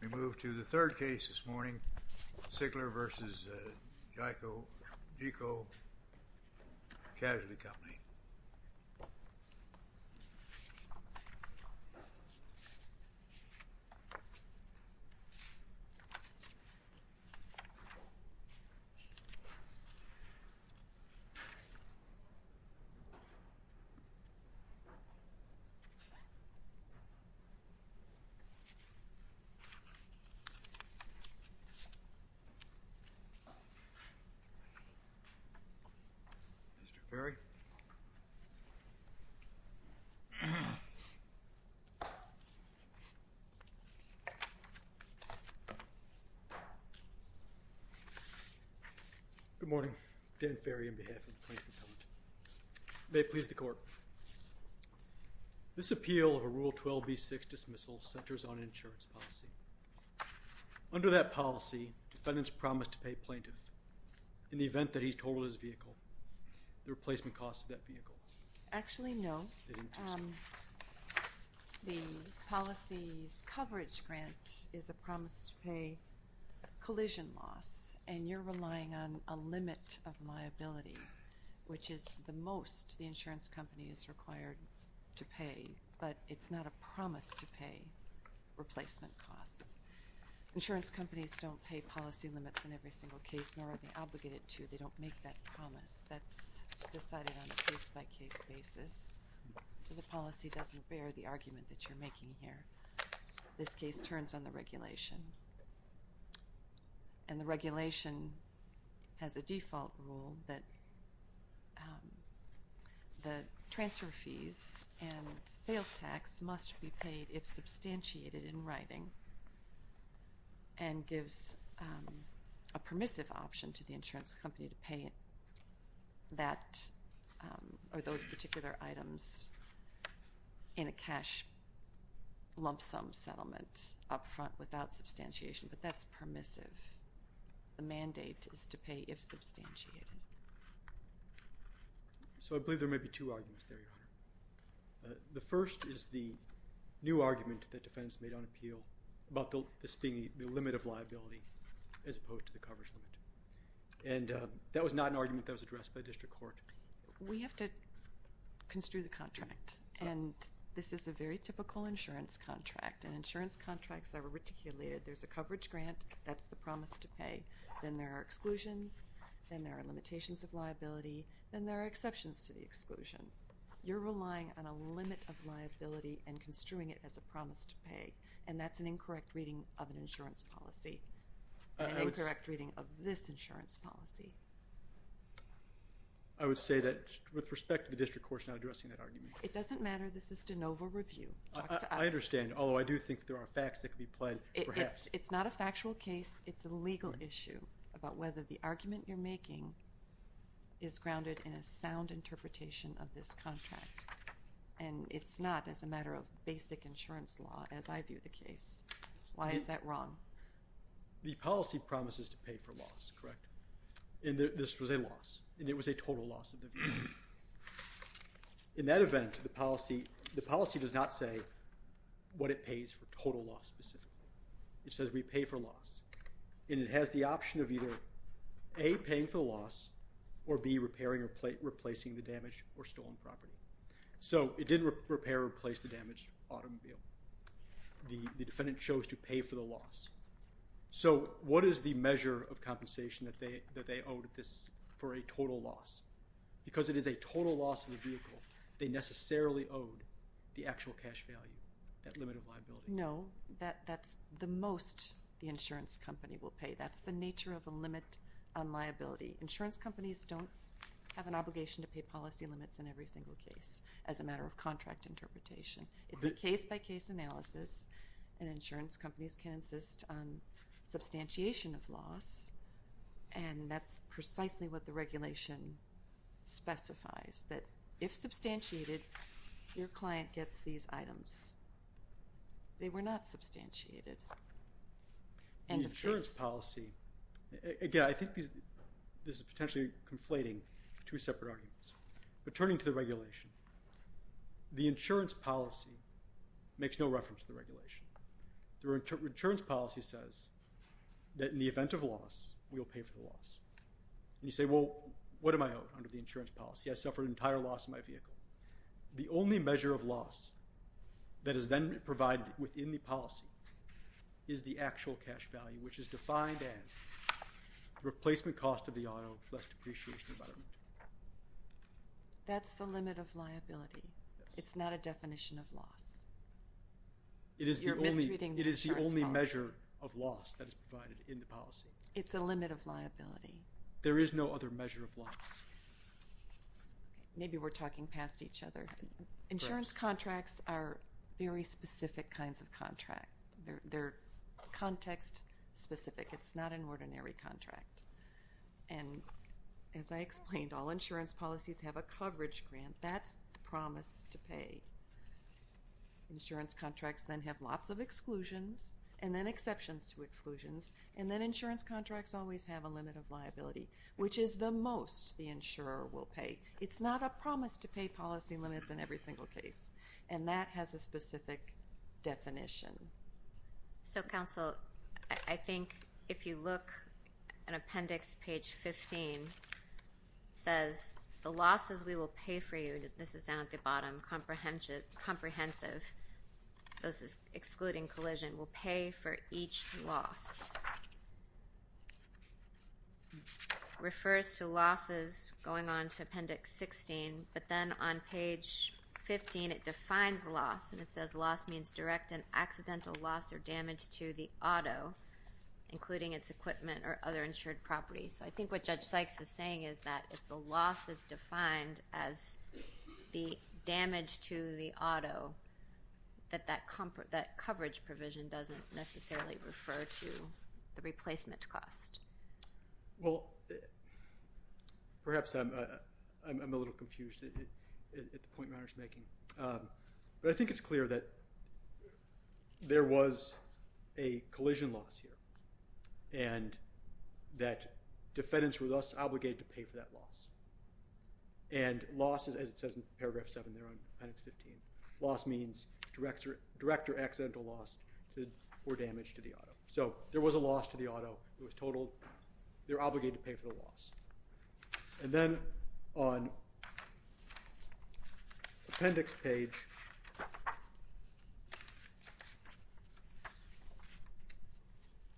We move to the third case this morning, Sigler v. Geico Casualty Co. Mr. Ferry. Good morning. Dan Ferry on behalf of the plaintiff's appellate. May it please the court. This appeal of a Rule 12b-6 dismissal centers on an insurance policy. Under that policy, defendants promise to pay plaintiff, in the event that he totaled his vehicle, the replacement cost of that vehicle. Actually, no. The policy's coverage grant is a promise to pay collision loss, and you're relying on a limit of liability, which is the most the insurance company is required to pay. But it's not a promise to pay replacement costs. Insurance companies don't pay policy limits in every single case, nor are they obligated to. They don't make that promise. That's decided on a case-by-case basis, so the policy doesn't bear the argument that you're making here. This case turns on the regulation, and the regulation has a default rule that the transfer fees and sales tax must be paid if substantiated in writing and gives a permissive option to the insurance company to pay that or those particular items in a cash lump sum settlement up front without substantiation. But that's permissive. The mandate is to pay if substantiated. So I believe there may be two arguments there, Your Honor. The first is the new argument that defense made on appeal about this being the limit of liability as opposed to the coverage limit. And that was not an argument that was addressed by district court. We have to construe the contract, and this is a very typical insurance contract, and insurance contracts are articulated. There's a coverage grant. That's the promise to pay. Then there are exclusions. Then there are limitations of liability. Then there are exceptions to the exclusion. You're relying on a limit of liability and construing it as a promise to pay, and that's an incorrect reading of an insurance policy, an incorrect reading of this insurance policy. I would say that with respect to the district court's not addressing that argument. It doesn't matter. This is de novo review. Talk to us. I understand, although I do think there are facts that could be played, perhaps. It's not a factual case. It's a legal issue about whether the argument you're making is grounded in a sound interpretation of this contract, and it's not as a matter of basic insurance law as I view the case. Why is that wrong? The policy promises to pay for loss, correct? And this was a loss, and it was a total loss. In that event, the policy does not say what it pays for total loss specifically. It says we pay for loss, and it has the option of either A, paying for loss, or B, repairing or replacing the damaged or stolen property. So it didn't repair or replace the damaged automobile. The defendant chose to pay for the loss. So what is the measure of compensation that they owed this for a total loss? Because it is a total loss of the vehicle, they necessarily owed the actual cash value, that limit of liability. No, that's the most the insurance company will pay. That's the nature of a limit on liability. Insurance companies don't have an obligation to pay policy limits in every single case as a matter of contract interpretation. It's a case-by-case analysis, and insurance companies can insist on substantiation of loss, and that's precisely what the regulation specifies, that if substantiated, your client gets these items. They were not substantiated. The insurance policy, again, I think this is potentially conflating two separate arguments. But turning to the regulation, the insurance policy makes no reference to the regulation. The insurance policy says that in the event of loss, we will pay for the loss. And you say, well, what am I owed under the insurance policy? I suffered an entire loss in my vehicle. The only measure of loss that is then provided within the policy is the actual cash value, which is defined as the replacement cost of the auto, less depreciation environment. That's the limit of liability. It's not a definition of loss. You're misreading the insurance policy. It is the only measure of loss that is provided in the policy. It's a limit of liability. There is no other measure of loss. Maybe we're talking past each other. Insurance contracts are very specific kinds of contract. They're context-specific. It's not an ordinary contract. And as I explained, all insurance policies have a coverage grant. That's the promise to pay. Insurance contracts then have lots of exclusions, and then exceptions to exclusions, and then insurance contracts always have a limit of liability, which is the most the insurer will pay. It's not a promise to pay policy limits in every single case. And that has a specific definition. So, counsel, I think if you look at appendix page 15, it says, the losses we will pay for you, this is down at the bottom, comprehensive, this is excluding collision, we'll pay for each loss. It refers to losses going on to appendix 16, but then on page 15, it defines loss, and it says loss means direct and accidental loss or damage to the auto, including its equipment or other insured property. So I think what Judge Sykes is saying is that if the loss is defined as the damage to the auto, that that coverage provision doesn't necessarily refer to the replacement cost. Well, perhaps I'm a little confused at the point Mayer's making. But I think it's clear that there was a collision loss here and that defendants were thus obligated to pay for that loss. And loss, as it says in paragraph 7 there on appendix 15, loss means direct or accidental loss or damage to the auto. So there was a loss to the auto. It was totaled. They're obligated to pay for the loss. And then on appendix page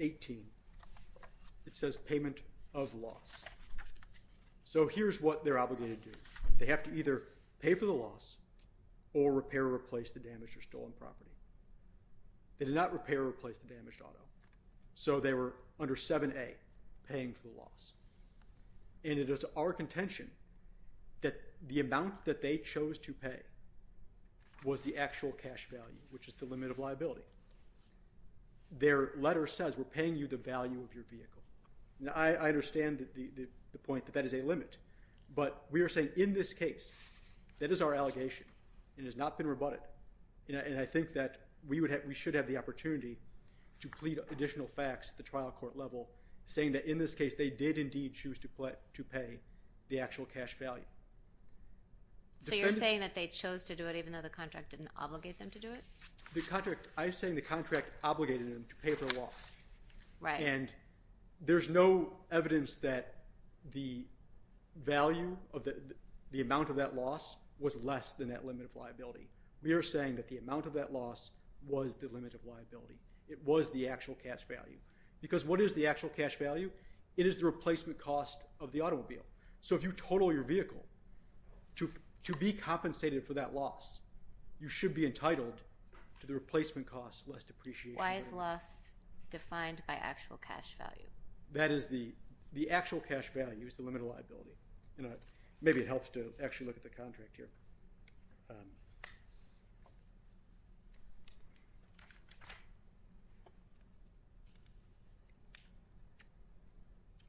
18, it says payment of loss. So here's what they're obligated to do. They have to either pay for the loss or repair or replace the damaged or stolen property. They did not repair or replace the damaged auto. So they were under 7A, paying for the loss. And it is our contention that the amount that they chose to pay was the actual cash value, which is the limit of liability. Their letter says we're paying you the value of your vehicle. Now, I understand the point that that is a limit. But we are saying in this case, that is our allegation. It has not been rebutted. And I think that we should have the opportunity to plead additional facts at the trial court level, saying that in this case they did indeed choose to pay the actual cash value. So you're saying that they chose to do it even though the contract didn't obligate them to do it? I'm saying the contract obligated them to pay for the loss. And there's no evidence that the value of the amount of that loss was less than that limit of liability. We are saying that the amount of that loss was the limit of liability. It was the actual cash value. Because what is the actual cash value? It is the replacement cost of the automobile. So if you total your vehicle to be compensated for that loss, you should be entitled to the replacement cost less depreciation. Why is loss defined by actual cash value? That is the actual cash value is the limit of liability. Maybe it helps to actually look at the contract here.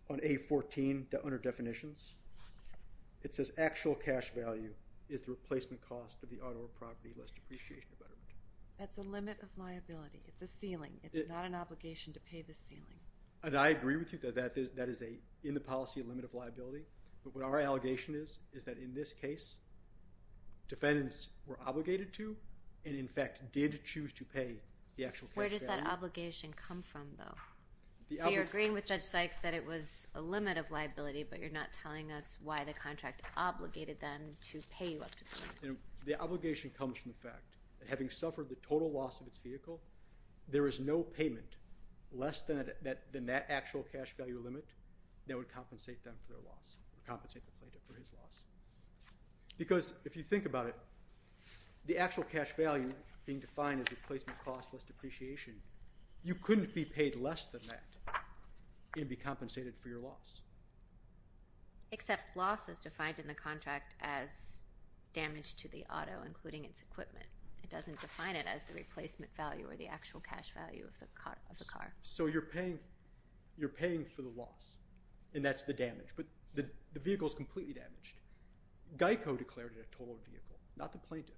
On A14, under definitions, it says actual cash value is the replacement cost of the automobile property less depreciation. That's a limit of liability. It's a ceiling. It's not an obligation to pay the ceiling. And I agree with you that that is in the policy a limit of liability. But what our allegation is is that in this case, defendants were obligated to and, in fact, did choose to pay the actual cash value. Where does that obligation come from, though? So you're agreeing with Judge Sykes that it was a limit of liability, but you're not telling us why the contract obligated them to pay you up to the ceiling. The obligation comes from the fact that having suffered the total loss of its vehicle, there is no payment less than that actual cash value limit that would compensate them for their loss, compensate the plaintiff for his loss. Because if you think about it, the actual cash value being defined as replacement cost less depreciation, you couldn't be paid less than that and be compensated for your loss. Except loss is defined in the contract as damage to the auto, including its equipment. It doesn't define it as the replacement value or the actual cash value of the car. So you're paying for the loss, and that's the damage. But the vehicle is completely damaged. GEICO declared it a total vehicle, not the plaintiff.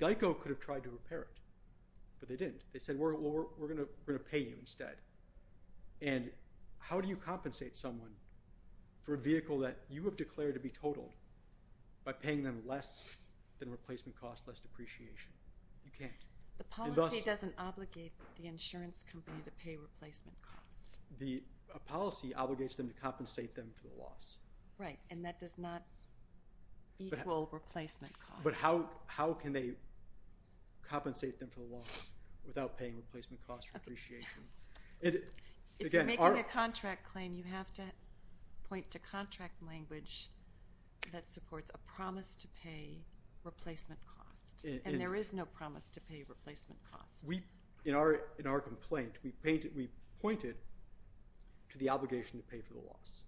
GEICO could have tried to repair it, but they didn't. They said, well, we're going to pay you instead. And how do you compensate someone for a vehicle that you have declared to be totaled by paying them less than replacement cost, less depreciation? You can't. The policy doesn't obligate the insurance company to pay replacement cost. The policy obligates them to compensate them for the loss. Right, and that does not equal replacement cost. But how can they compensate them for the loss without paying replacement cost or depreciation? If you're making a contract claim, you have to point to contract language that supports a promise to pay replacement cost. And there is no promise to pay replacement cost. In our complaint, we pointed to the obligation to pay for the loss.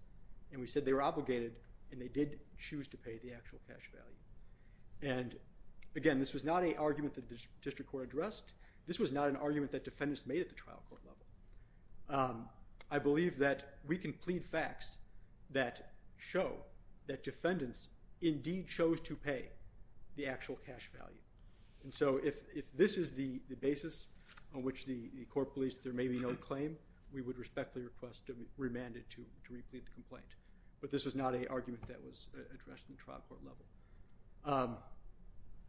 And we said they were obligated, and they did choose to pay the actual cash value. And again, this was not an argument that the district court addressed. This was not an argument that defendants made at the trial court level. I believe that we can plead facts that show that defendants indeed chose to pay the actual cash value. And so if this is the basis on which the court believes there may be no claim, we would respectfully request to remand it to re-plead the complaint. But this was not an argument that was addressed in the trial court level.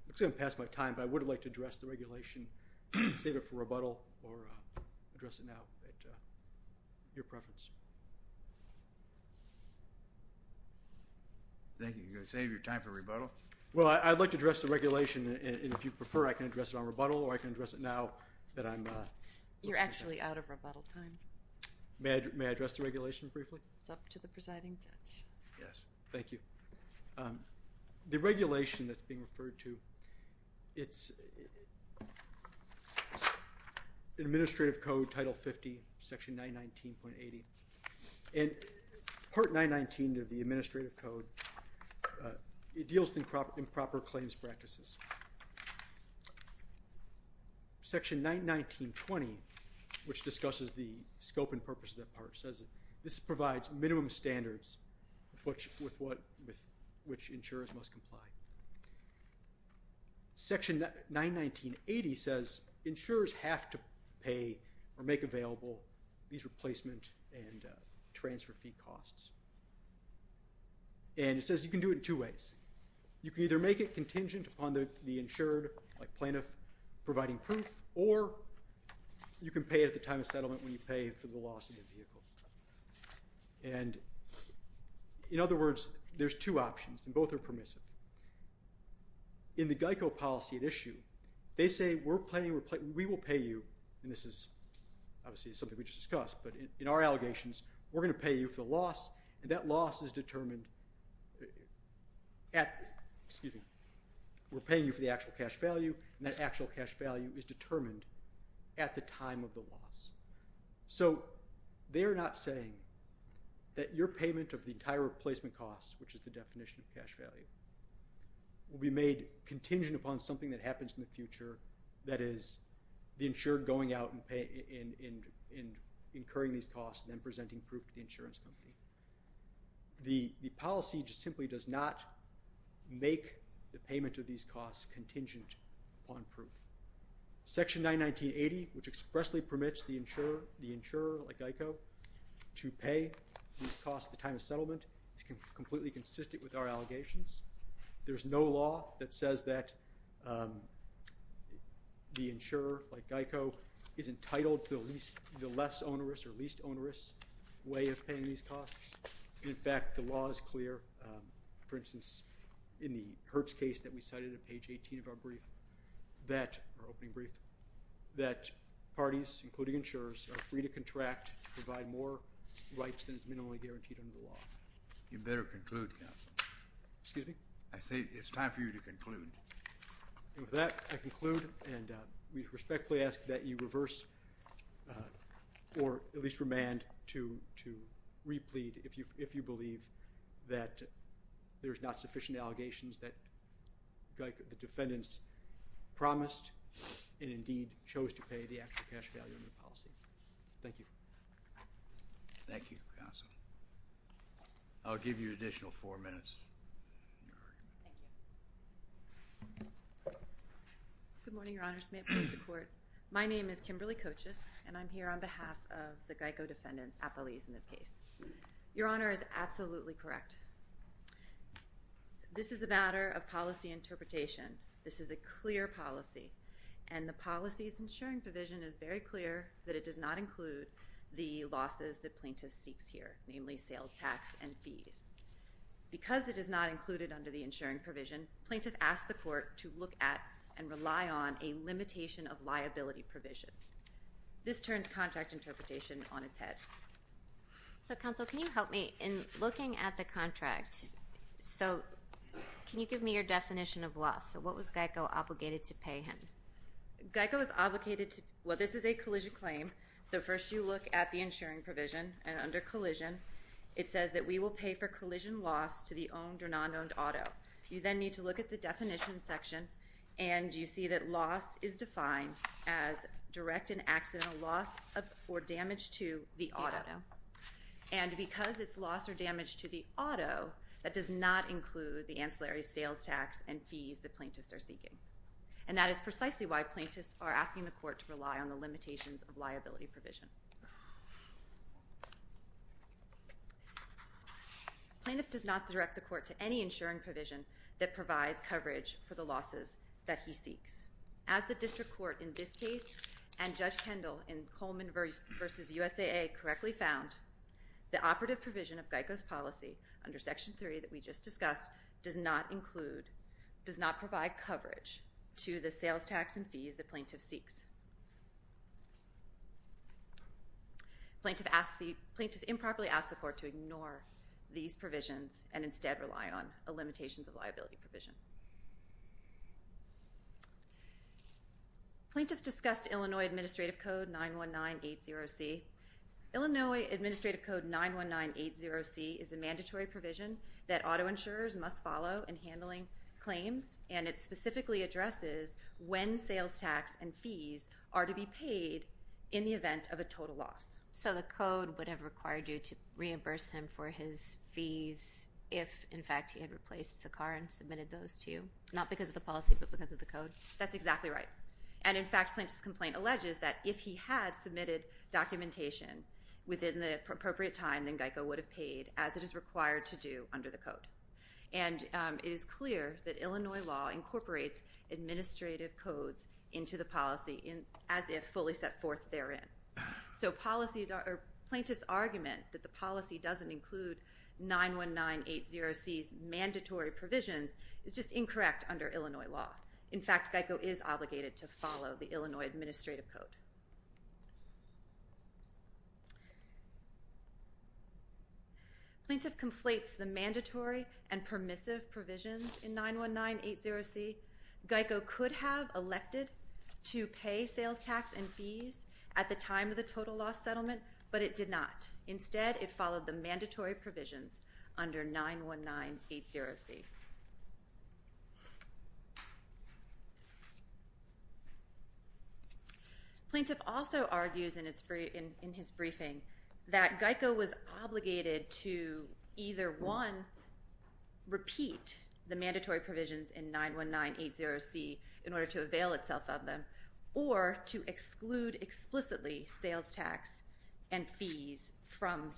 Looks like I'm going to pass my time. But I would like to address the regulation, save it for rebuttal, or address it now at your preference. Thank you. You're going to save your time for rebuttal? Well, I'd like to address the regulation. And if you prefer, I can address it on rebuttal, or I can address it now. You're actually out of rebuttal time. May I address the regulation briefly? It's up to the presiding judge. Yes. Thank you. The regulation that's being referred to, it's in Administrative Code Title 50, Section 919.80. And Part 919 of the Administrative Code, it deals in proper claims practices. Section 919.20, which discusses the scope and purpose of that part, says this provides minimum standards with which insurers must comply. Section 919.80 says insurers have to pay or make available these replacement and transfer fee costs. And it says you can do it in two ways. You can either make it contingent upon the insured, like plaintiff, providing proof, or you can pay at the time of settlement when you pay for the loss of your vehicle. And, in other words, there's two options, and both are permissive. In the GEICO policy at issue, they say we will pay you, and this is obviously something we just discussed, but in our allegations, we're going to pay you for the loss, and that loss is determined at, excuse me, we're paying you for the actual cash value, and that actual cash value is determined at the time of the loss. So they're not saying that your payment of the entire replacement cost, which is the definition of cash value, will be made contingent upon something that happens in the future, that is the insured going out and incurring these costs and then presenting proof to the insurance company. The policy just simply does not make the payment of these costs contingent upon proof. Section 91980, which expressly permits the insurer, like GEICO, to pay these costs at the time of settlement, is completely consistent with our allegations. There's no law that says that the insurer, like GEICO, is entitled to the less onerous or least onerous way of paying these costs. In fact, the law is clear. For instance, in the Hertz case that we cited at page 18 of our brief, our opening brief, that parties, including insurers, are free to contract to provide more rights than is minimally guaranteed under the law. You better conclude, counsel. Excuse me? I say it's time for you to conclude. With that, I conclude, and we respectfully ask that you reverse or at least remand to replead if you believe that there's not sufficient allegations that the defendants promised and indeed chose to pay the actual cash value of the policy. Thank you. Thank you, counsel. I'll give you additional four minutes. Thank you. Good morning, Your Honors. May it please the Court. My name is Kimberly Kochus, and I'm here on behalf of the GEICO defendants, appellees in this case. Your Honor is absolutely correct. This is a matter of policy interpretation. This is a clear policy, and the policy's insuring provision is very clear that it does not include the losses that plaintiff seeks here, namely sales tax and fees. Because it is not included under the insuring provision, plaintiff asks the Court to look at and rely on a limitation of liability provision. This turns contract interpretation on its head. So, counsel, can you help me? In looking at the contract, so can you give me your definition of loss? What was GEICO obligated to pay him? GEICO is obligated to pay. Well, this is a collision claim, so first you look at the insuring provision, and under collision it says that we will pay for collision loss to the owned or non-owned auto. You then need to look at the definition section, and you see that loss is defined as direct and accidental loss or damage to the auto. And because it's loss or damage to the auto, that does not include the ancillary sales tax and fees that plaintiffs are seeking. And that is precisely why plaintiffs are asking the Court to rely on the limitations of liability provision. Plaintiff does not direct the Court to any insuring provision that provides coverage for the losses that he seeks. As the district court in this case and Judge Kendall in Coleman v. USAA correctly found, the operative provision of GEICO's policy, under Section 3 that we just discussed, does not include, does not provide coverage to the sales tax and fees the plaintiff seeks. Plaintiff improperly asks the Court to ignore these provisions and instead rely on the limitations of liability provision. Plaintiff discussed Illinois Administrative Code 91980C. Illinois Administrative Code 91980C is a mandatory provision that auto insurers must follow in handling claims, and it specifically addresses when sales tax and fees are to be paid in the event of a total loss. So the Code would have required you to reimburse him for his fees if, in fact, he had replaced the car and submitted those to you? Not because of the policy but because of the Code? That's exactly right. And, in fact, Plaintiff's complaint alleges that if he had submitted documentation within the appropriate time, then GEICO would have paid as it is required to do under the Code. And it is clear that Illinois law incorporates administrative codes into the policy as if fully set forth therein. So Plaintiff's argument that the policy doesn't include 91980C's mandatory provisions is just incorrect under Illinois law. In fact, GEICO is obligated to follow the Illinois Administrative Code. Plaintiff conflates the mandatory and permissive provisions in 91980C. GEICO could have elected to pay sales tax and fees at the time of the total loss settlement, but it did not. Instead, it followed the mandatory provisions under 91980C. Plaintiff also argues in his briefing that GEICO was obligated to either, one, repeat the mandatory provisions in 91980C in order to avail itself of them, or to exclude explicitly sales tax and fees from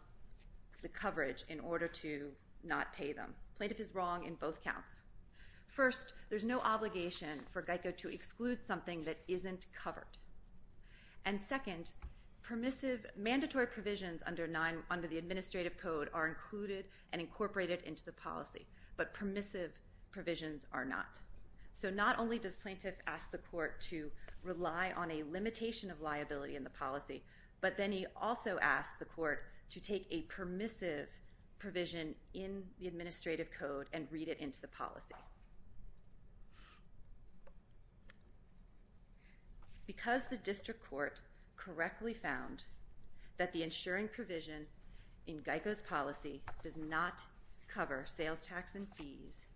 the coverage in order to not pay them. Plaintiff is wrong in both counts. First, there's no obligation for GEICO to exclude something that isn't covered. And, second, permissive mandatory provisions under the Administrative Code are included and incorporated into the policy, but permissive provisions are not. So not only does Plaintiff ask the court to rely on a limitation of liability in the policy, but then he also asks the court to take a permissive provision in the Administrative Code and read it into the policy. Because the district court correctly found that the insuring provision in GEICO's policy does not cover sales tax and fees,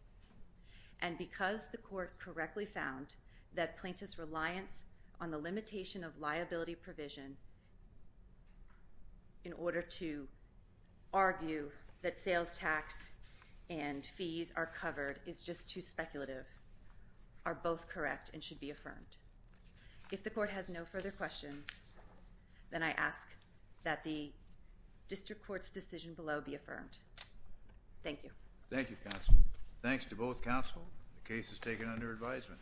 and because the court correctly found that Plaintiff's reliance on the limitation of liability provision in order to argue that sales tax and fees are covered is just too speculative, are both correct and should be affirmed. If the court has no further questions, then I ask that the district court's decision below be affirmed. Thank you. Thank you, counsel. Thanks to both counsel. The case is taken under advisement.